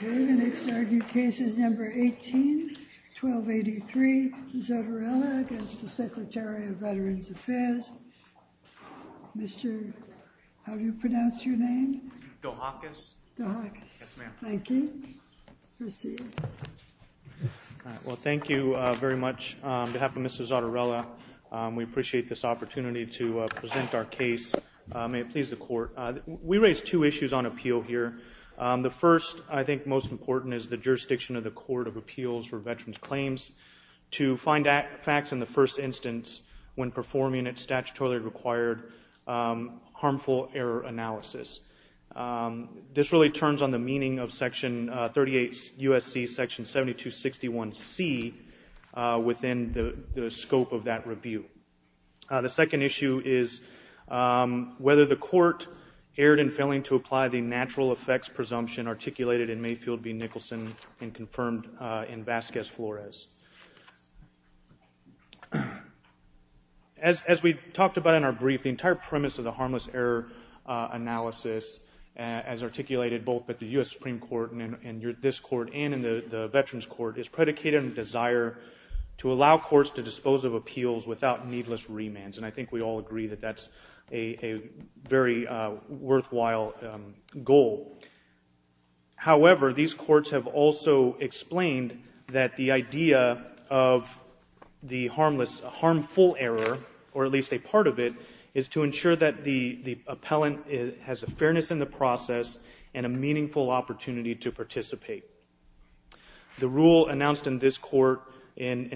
The next argued case is number 18-1283, Zottarella v. Secretary of Veterans Affairs, Mr. Dohakis. Well, thank you very much. On behalf of Mrs. Zottarella, we appreciate this opportunity to present our case. May it please the Court. We raise two issues on appeal here. The first, I think most important, is the jurisdiction of the Court of Appeals for Veterans Claims to find facts in the first instance when performing its statutorily required harmful error analysis. This really turns on the meaning of Section 38 U.S.C. Section 7261C within the scope of that review. The second issue is whether the Court erred in failing to apply the natural effects presumption articulated in Mayfield v. Nicholson and confirmed in Vasquez-Flores. As we talked about in our brief, the entire premise of the harmless error analysis as articulated both at the U.S. Supreme Court and in this Court and in the Veterans Court is predicated on the desire to allow courts to dispose of appeals without needless remands. And I think we all agree that that's a very worthwhile goal. However, these courts have also explained that the idea of the harmful error, or at least a part of it, is to ensure that the appellant has a fairness in the process and a meaningful opportunity to participate. The rule announced in this Court in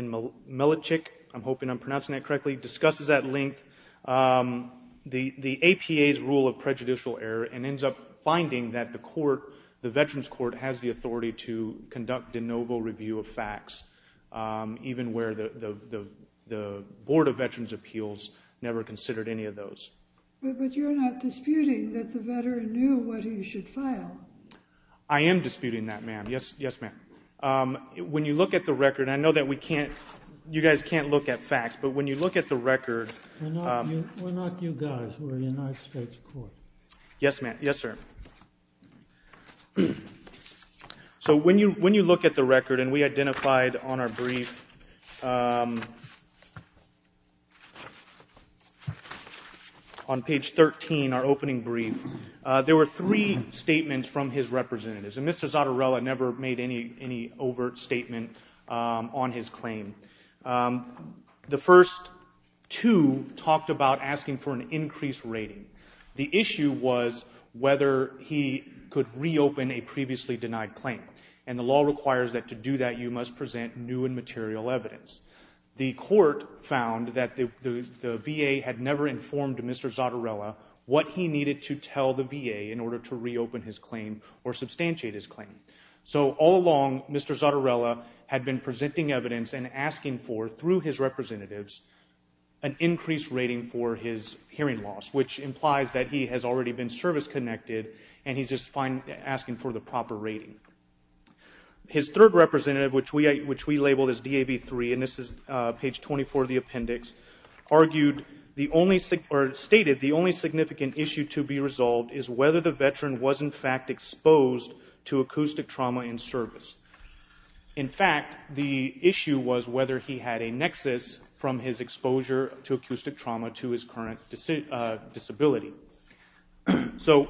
Milichick, I'm hoping I'm pronouncing that correctly, discusses at length the APA's rule of prejudicial error and ends up finding that the Veterans Court has the authority to conduct de novo review of facts, even where the Board of Veterans Appeals never considered any of those. But you're not disputing that the veteran knew what he should file? I am disputing that, ma'am. Yes, ma'am. When you look at the record, I know that we can't – you guys can't look at facts, but when you look at the record – We're not you guys. We're the United States Court. Yes, ma'am. Yes, sir. So when you look at the record, and we identified on our brief, on page 13, our opening brief, there were three statements from his representatives. And Mr. Zottarella never made any overt statement on his claim. The first two talked about asking for an increased rating. The issue was whether he could reopen a previously denied claim. And the law requires that to do that, you must present new and material evidence. The Court found that the VA had never informed Mr. Zottarella what he needed to tell the VA in order to reopen his claim or substantiate his claim. So all along, Mr. Zottarella had been presenting evidence and asking for, through his representatives, an increased rating for his hearing loss, which implies that he has already been service-connected, and he's just asking for the proper rating. His third representative, which we labeled as DAV3, and this is page 24 of the appendix, argued, or stated, the only significant issue to be resolved is whether the veteran was, in fact, exposed to acoustic trauma in service. In fact, the issue was whether he had a nexus from his exposure to acoustic trauma to his current disability. So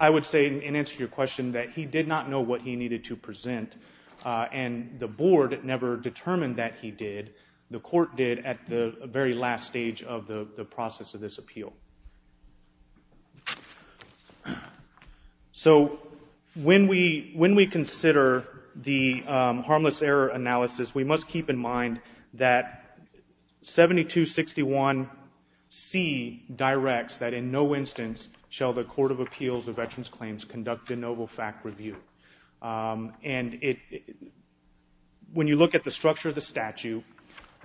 I would say, in answer to your question, that he did not know what he needed to present, and the Board never determined that he did. The Court did at the very last stage of the process of this appeal. So when we consider the harmless error analysis, we must keep in mind that 7261C directs that in no instance shall the Court of Appeals of Veterans Claims conduct a novel fact review. And when you look at the structure of the statute,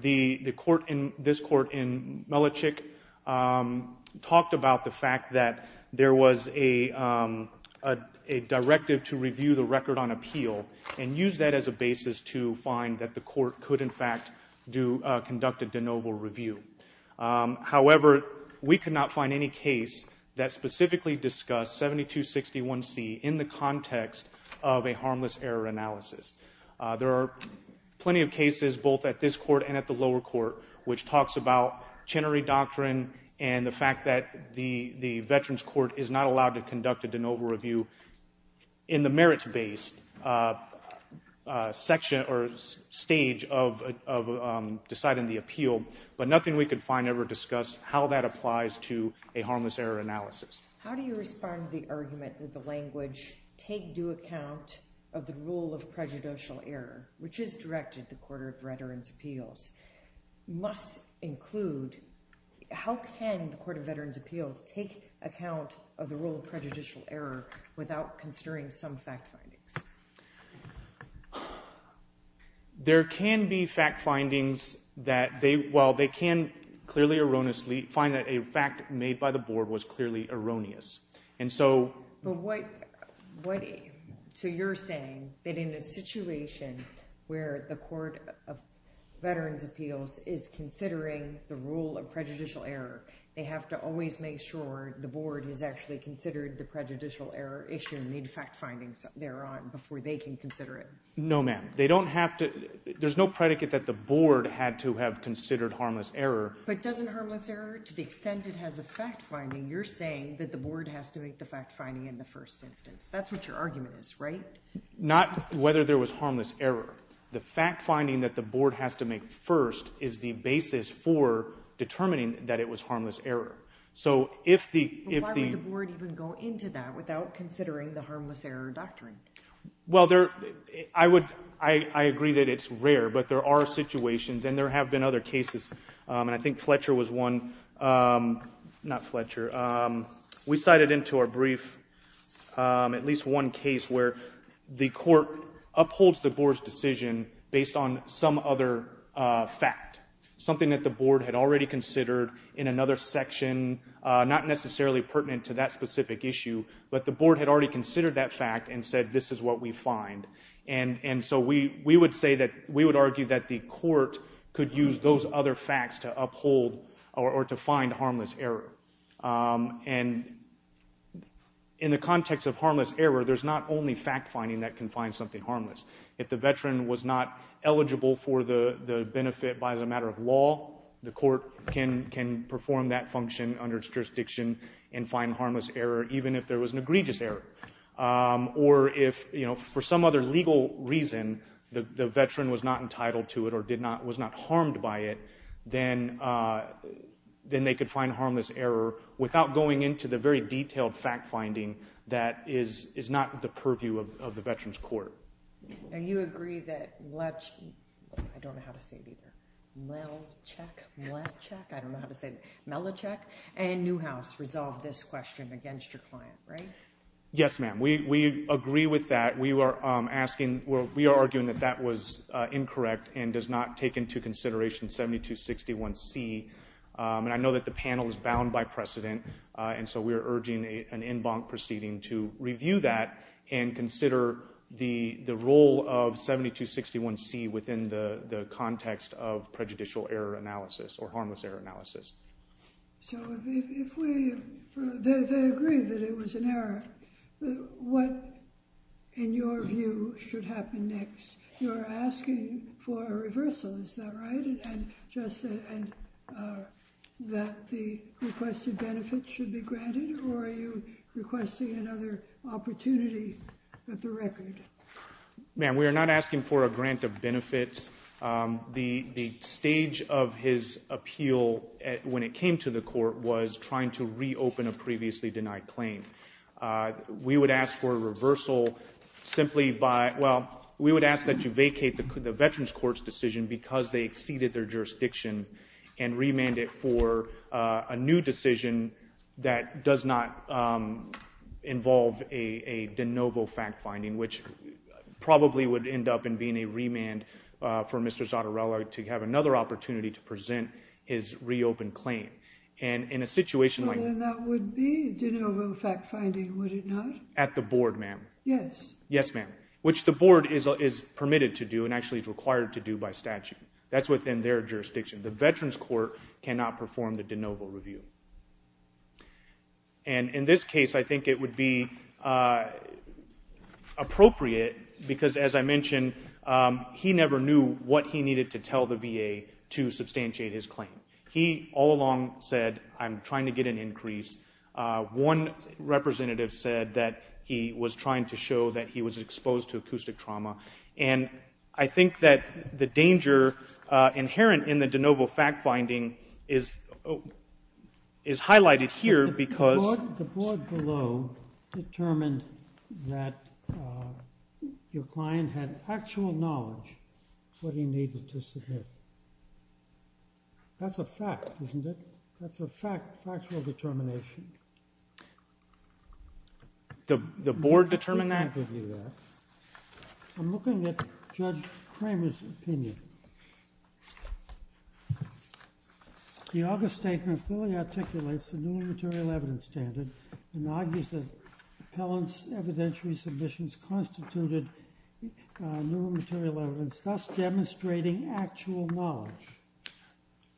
this Court in Melichick talked about the fact that there was a directive to review the record on appeal and use that as a basis to find that the Court could, in fact, conduct a de novo review. However, we could not find any case that specifically discussed 7261C in the context of a harmless error analysis. There are plenty of cases, both at this Court and at the lower Court, which talks about Chenery Doctrine and the fact that the Veterans Court is not allowed to conduct a de novo review in the merits-based section or stage of deciding the appeal, but nothing we could find ever discussed how that applies to a harmless error analysis. How do you respond to the argument that the language, take due account of the rule of prejudicial error, which is directed the Court of Veterans Appeals, must include, how can the Court of Veterans Appeals take account of the rule of prejudicial error without considering some fact findings? There can be fact findings that they, well, they can clearly erroneously find that a fact made by the Board was clearly erroneous. So you're saying that in a situation where the Court of Veterans Appeals is considering the rule of prejudicial error, they have to always make sure the Board has actually considered the prejudicial error issue and made fact findings thereon before they can consider it? No, ma'am. There's no predicate that the Board had to have considered harmless error. But doesn't harmless error, to the extent it has a fact finding, you're saying that the Board has to make the fact finding in the first instance. That's what your argument is, right? Not whether there was harmless error. The fact finding that the Board has to make first is the basis for determining that it was harmless error. So if the— Why would the Board even go into that without considering the harmless error doctrine? Well, there, I would, I agree that it's rare, but there are situations, and there have been other cases, and I think Fletcher was one. Not Fletcher. We cited into our brief at least one case where the Court upholds the Board's decision based on some other fact, something that the Board had already considered in another section, not necessarily pertinent to that specific issue, but the Board had already considered that fact and said, this is what we find. And so we would say that, we would argue that the Court could use those other facts to uphold or to find harmless error. And in the context of harmless error, there's not only fact finding that can find something harmless. If the veteran was not eligible for the benefit as a matter of law, the Court can perform that function under jurisdiction and find harmless error even if there was an egregious error. Or if, you know, for some other legal reason, the veteran was not entitled to it or did not, was not harmed by it, then they could find harmless error without going into the very detailed fact finding that is not the purview of the Veterans Court. And you agree that Fletcher, I don't know how to say it either, Melachek, I don't know how to say it, Melachek and Newhouse resolved this question against your client, right? Yes, ma'am, we agree with that. We were asking, we are arguing that that was incorrect and does not take into consideration 7261C. And I know that the panel is bound by precedent. And so we are urging an en banc proceeding to review that and consider the role of 7261C within the context of prejudicial error analysis or harmless error analysis. So if we, they agree that it was an error. What, in your view, should happen next? You're asking for a reversal, is that right? And just that the requested benefits should be granted? Or are you requesting another opportunity at the record? Ma'am, we are not asking for a grant of benefits. The stage of his appeal when it came to the court was trying to reopen a previously denied claim. We would ask for a reversal simply by, well, we would ask that you vacate the Veterans Court's decision because they exceeded their jurisdiction and remand it for a new decision that does not involve a de novo fact finding, which probably would end up in being a remand for Mr. Zottarello to have another opportunity to present his reopened claim. And in a situation like that... Well, then that would be a de novo fact finding, would it not? At the board, ma'am. Yes. Yes, ma'am. Which the board is permitted to do and actually is required to do by statute. That's within their jurisdiction. The Veterans Court cannot perform the de novo review. And in this case, I think it would be appropriate because, as I mentioned, he never knew what he needed to tell the VA to substantiate his claim. He all along said, I'm trying to get an increase. One representative said that he was trying to show that he was exposed to acoustic trauma. And I think that the danger inherent in the de novo fact finding is highlighted here because... The board below determined that your client had actual knowledge of what he needed to submit. That's a fact, isn't it? That's a fact, factual determination. The board determined that? I'm looking at Judge Kramer's opinion. The August statement fully articulates the new material evidence standard and argues that Appellant's evidentiary submissions constituted new material evidence, thus demonstrating actual knowledge.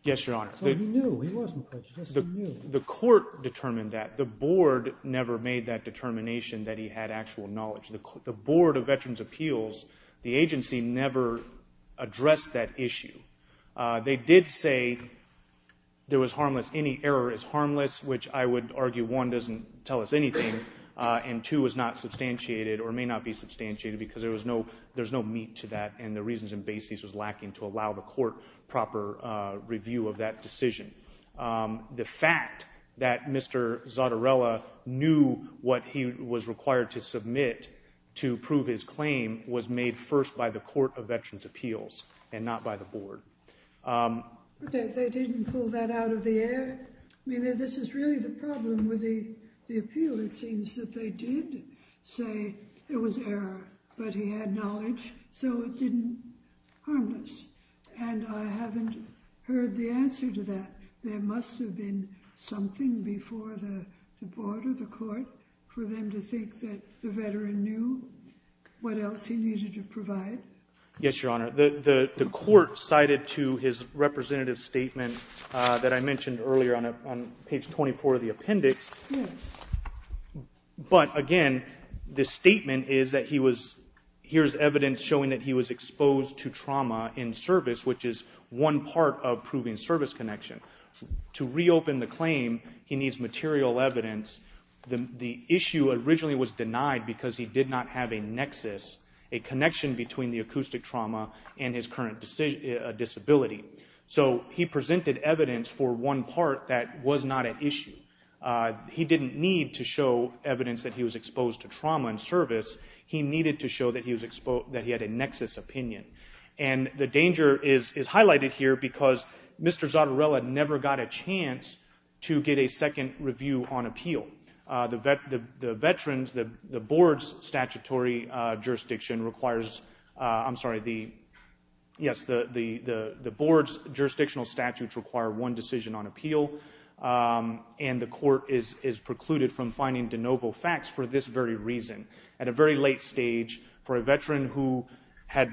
Yes, Your Honor. So he knew. He wasn't prejudiced. He knew. The court determined that. The board never made that determination that he had actual knowledge. The Board of Veterans' Appeals, the agency, never addressed that issue. They did say there was harmless, any error is harmless, which I would argue, one, doesn't tell us anything, and two, is not substantiated or may not be substantiated because there's no meat to that and the reasons and basis was lacking to allow the court proper review of that decision. The fact that Mr. Zottarella knew what he was required to submit to prove his claim was made first by the Court of Veterans' Appeals and not by the board. They didn't pull that out of the air. This is really the problem with the appeal. It seems that they did say it was error, but he had knowledge, so it didn't, harmless. And I haven't heard the answer to that. There must have been something before the board or the court for them to think that the veteran knew what else he needed to provide. Yes, Your Honor. The court cited to his representative statement that I mentioned earlier on page 24 of the appendix, but again, the statement is that he was, here's evidence showing that he was exposed to trauma in service, which is one part of proving service connection. To reopen the claim, he needs material evidence. The issue originally was denied because he did not have a nexus, a connection between the acoustic trauma and his current disability. So he presented evidence for one part that was not at issue. He didn't need to show evidence that he was exposed to trauma in service. He needed to show that he was exposed, that he had a nexus opinion. And the danger is highlighted here because Mr. Zottarella never got a chance to get a second review on appeal. The veterans, the board's statutory jurisdiction requires, I'm sorry, yes, the board's jurisdictional statutes require one decision on appeal. And the court is precluded from finding de novo facts for this very reason. At a very late stage, for a veteran who had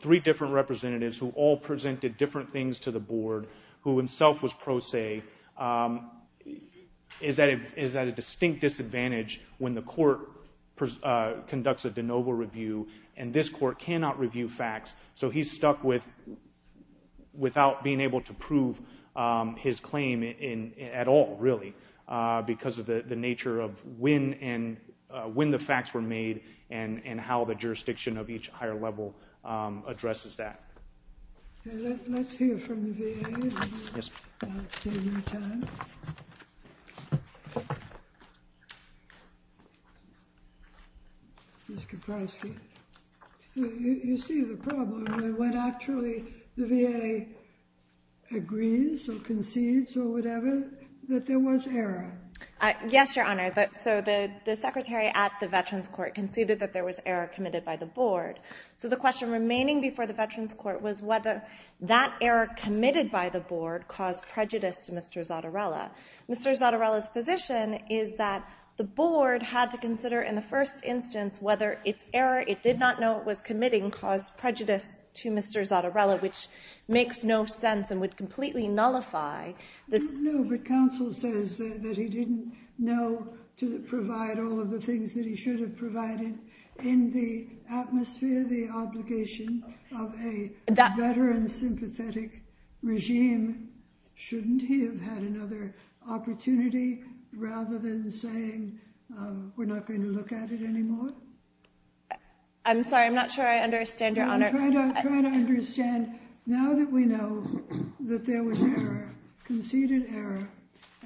three different representatives who all presented different things to the board, who himself was pro se, is at a distinct disadvantage when the court conducts a de novo review. And this court cannot review facts. So he's stuck without being able to prove his claim at all, really, because of the nature of when the facts were made and how the jurisdiction of each higher level addresses that. Okay, let's hear from the VA. Yes, ma'am. I'll save you time. Ms. Kaprosky, you see the problem, right? When actually the VA agrees or concedes or whatever that there was error. Yes, Your Honor. So the secretary at the Veterans Court conceded that there was error committed by the board. So the question remaining before the Veterans Court was whether that error committed by the board caused prejudice to Mr. Zottarella. Mr. Zottarella's position is that the board had to consider in the first instance whether its error, it did not know it was committing, caused prejudice to Mr. Zottarella, which makes no sense and would completely nullify this. No, but counsel says that he didn't know to provide all of the things that he should have provided in the atmosphere, the obligation of a better and sympathetic regime. Shouldn't he have had another opportunity rather than saying, we're not going to look at it anymore? I'm sorry, I'm not sure I understand, Your Honor. Try to understand. Now that we know that there was error, conceded error,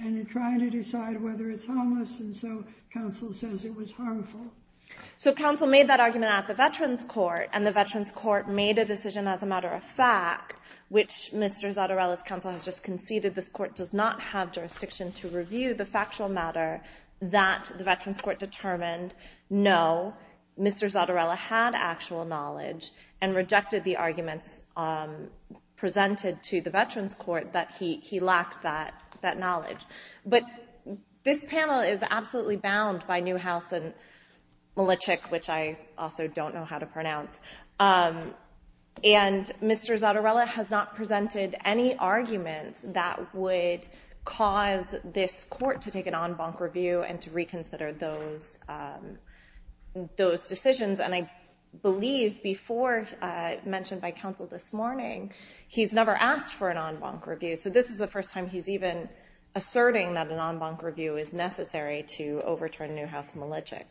and in trying to decide whether it's harmless, and so counsel says it was harmful. So counsel made that argument at the Veterans Court, and the Veterans Court made a decision as a matter of fact, which Mr. Zottarella's counsel has just conceded, this court does not have jurisdiction to review the factual matter that the Veterans Court determined, no, Mr. Zottarella had actual knowledge and rejected the arguments presented to the Veterans Court that he lacked that knowledge. But this panel is absolutely bound by Newhouse and Milichik, which I also don't know how to pronounce. And Mr. Zottarella has not presented any arguments that would cause this court to take an en banc review and to reconsider those decisions. And I believe before, mentioned by counsel this morning, he's never asked for an en banc review. So this is the first time he's even asserting that an en banc review is necessary to overturn Newhouse and Milichik.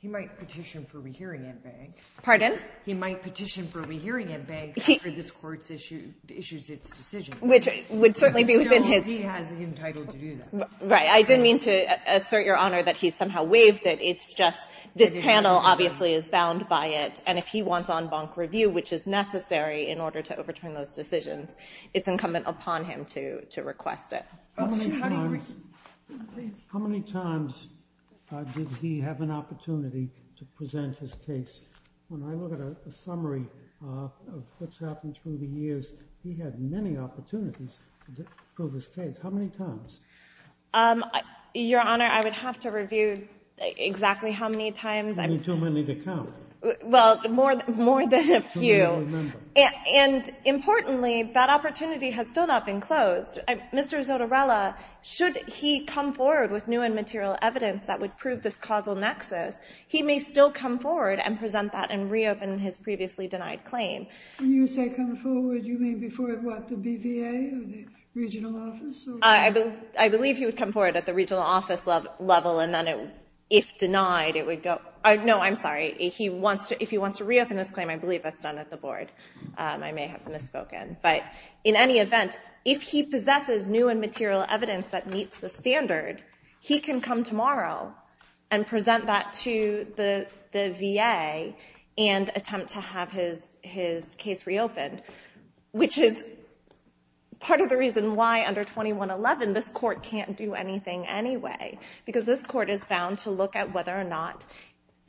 He might petition for rehearing en banc. Pardon? He might petition for rehearing en banc after this court issues its decision. Which would certainly be within his... Still, he has the entitlement to do that. Right. I didn't mean to assert, Your Honor, that he's somehow waived it. It's just this panel, obviously, is bound by it. And if he wants en banc review, which is necessary in order to overturn those decisions, it's incumbent upon him to request it. How many times did he have an opportunity to present his case? When I look at a summary of what's happened through the years, he had many opportunities to prove his case. How many times? Your Honor, I would have to review exactly how many times. I mean, too many to count. Well, more than a few. Too many to remember. And importantly, that opportunity has still not been closed. Mr. Zottarella, should he come forward with new and material evidence that would prove this causal nexus, he may still come forward and present that and reopen his previously denied claim. When you say come forward, you mean before what? The BVA or the regional office? I believe he would come forward at the regional office level, and then if denied, it would go... No, I'm sorry. If he wants to reopen this claim, I believe that's done at the board. I may have misspoken. But in any event, if he possesses new and material evidence that meets the standard, he can come tomorrow and present that to the VA and attempt to have his case reopened, which is part of the reason why under 2111, this court can't do anything anyway. Because this court is bound to look at whether or not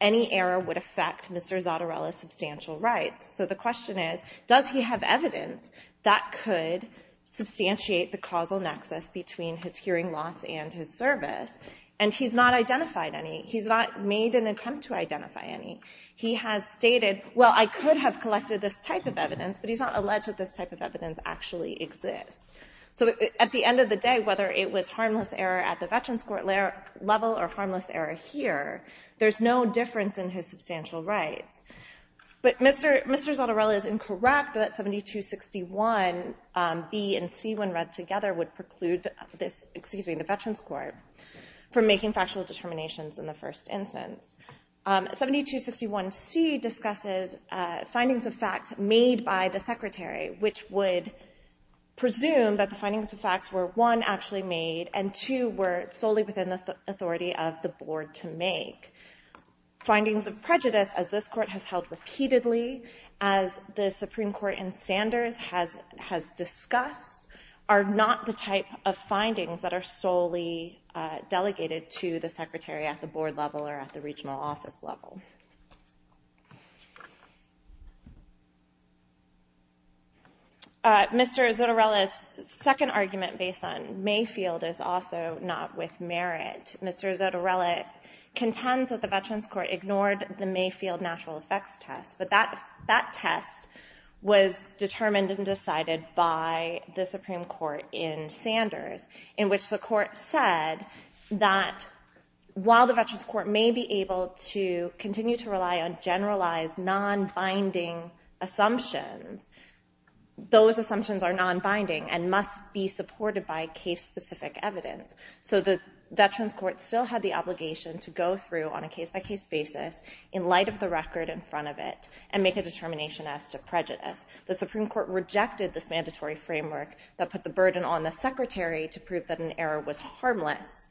any error would affect Mr. Zottarella's substantial rights. So the question is, does he have evidence that could substantiate the causal nexus between his hearing loss and his service? And he's not identified any. He's not made an attempt to identify any. He has stated, well, I could have collected this type of evidence, but he's not alleged that this type of evidence actually exists. So at the end of the day, whether it was harmless error at the Veterans Court level or harmless error here, there's no difference in his substantial rights. But Mr. Zottarella is incorrect that 7261B and C, when read together, would preclude this, excuse me, the Veterans Court from making factual determinations in the first instance. 7261C discusses findings of facts made by the secretary, which would presume that the findings of facts were, one, actually made, and two, were solely within the authority of the board to make. Findings of prejudice, as this court has held repeatedly, as the Supreme Court in Sanders has discussed, are not the type of findings that are solely delegated to the secretary at the board level or at the regional office level. All right. Mr. Zottarella's second argument based on Mayfield is also not with merit. Mr. Zottarella contends that the Veterans Court ignored the Mayfield natural effects test, but that test was determined and decided by the Supreme Court in Sanders, in which the court said that while the Veterans Court may be able to continue to rely on generalized, non-binding assumptions, those assumptions are non-binding and must be supported by case-specific evidence. So the Veterans Court still had the obligation to go through on a case-by-case basis in light of the record in front of it and make a determination as to prejudice. The Supreme Court rejected this mandatory framework that put the burden on the secretary to prove that an error was harmless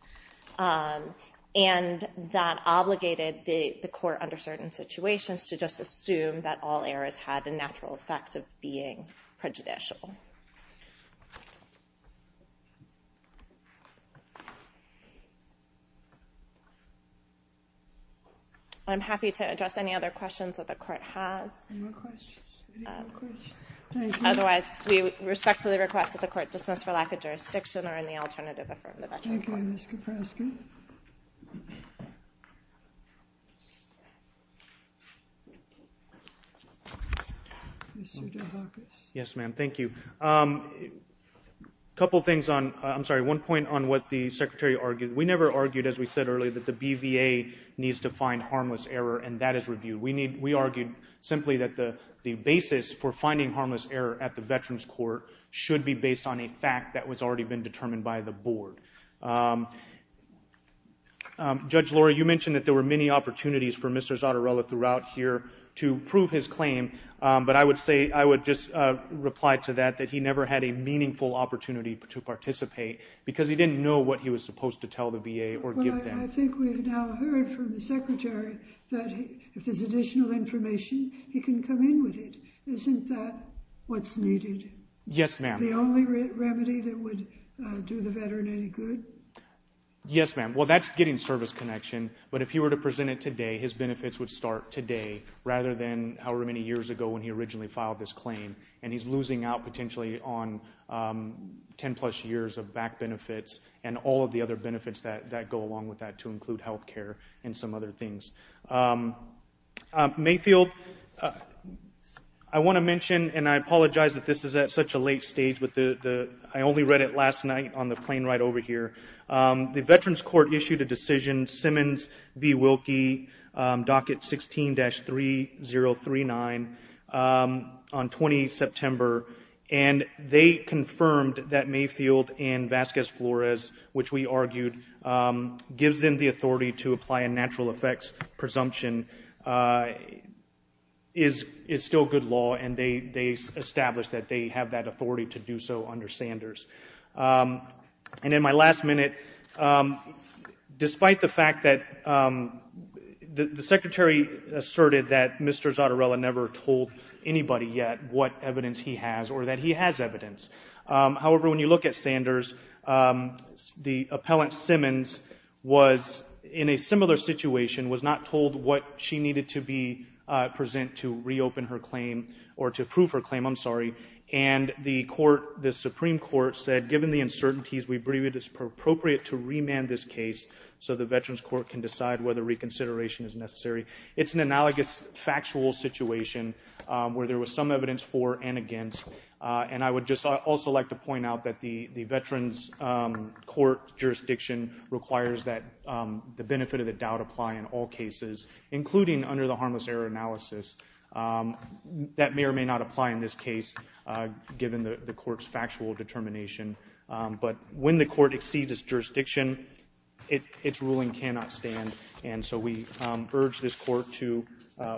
and that obligated the court under certain situations to just assume that all errors had the natural effect of being prejudicial. I'm happy to address any other questions that the court has. Otherwise, we respectfully request that the court dismiss for lack of jurisdiction or any alternative from the Veterans Court. Thank you, Ms. Kaprosky. Yes, ma'am. Thank you. A couple of things on, I'm sorry, one point on what the secretary argued. We never argued, as we said earlier, that the BVA needs to find harmless error, and that is reviewed. We argued simply that the basis for finding harmless error at the Veterans Court should be based on a fact that was already been determined by the board. Judge Lora, you mentioned that there were many opportunities for Mr. Zottarella throughout here to prove his claim, but I would say, I would just reply to that, that he never had a meaningful opportunity to participate because he didn't know what he was supposed to tell the VA or give them. I think we've now heard from the secretary that if there's additional information, he can come in with it. Isn't that what's needed? Yes, ma'am. The only remedy that would do the veteran any good? Yes, ma'am. Well, that's getting service connection, but if he were to present it today, his benefits would start today rather than however many years ago when he originally filed this claim, and he's losing out potentially on 10 plus years of back benefits and all of the other benefits that go along with that to include health care and some other things. Mayfield, I want to mention, and I apologize that this is at such a late stage, I only read it last night on the plane ride over here. The Veterans Court issued a decision, Simmons v. Wilkie, docket 16-3039 on 20 September, and they confirmed that Mayfield and Vasquez-Flores, which we argued, gives them the authority to apply a natural effects presumption, is still good law, and they established that they have that authority to do so under Sanders. And in my last minute, despite the fact that the secretary asserted that Mr. Zottarella never told anybody yet what evidence he has or that he has evidence. However, when you look at Sanders, the appellant Simmons was in a similar situation, was not told what she needed to present to reopen her claim or to approve her claim, I'm sorry, and the Supreme Court said, given the uncertainties, we believe it is appropriate to remand this case so the Veterans Court can decide whether reconsideration is necessary. It's an analogous factual situation where there was some evidence for and against, and I would just also like to point out that the Veterans Court jurisdiction requires that the benefit of the doubt apply in all cases, including under the harmless error analysis. That may or may not apply in this case, given the court's factual determination, but when the court exceeds its jurisdiction, its ruling cannot stand, and so we urge this court to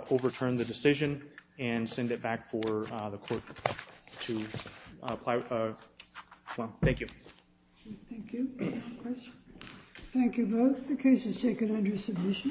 overturn the decision and send it back for the court to apply. Thank you. Thank you. Thank you both. The case is taken under submission.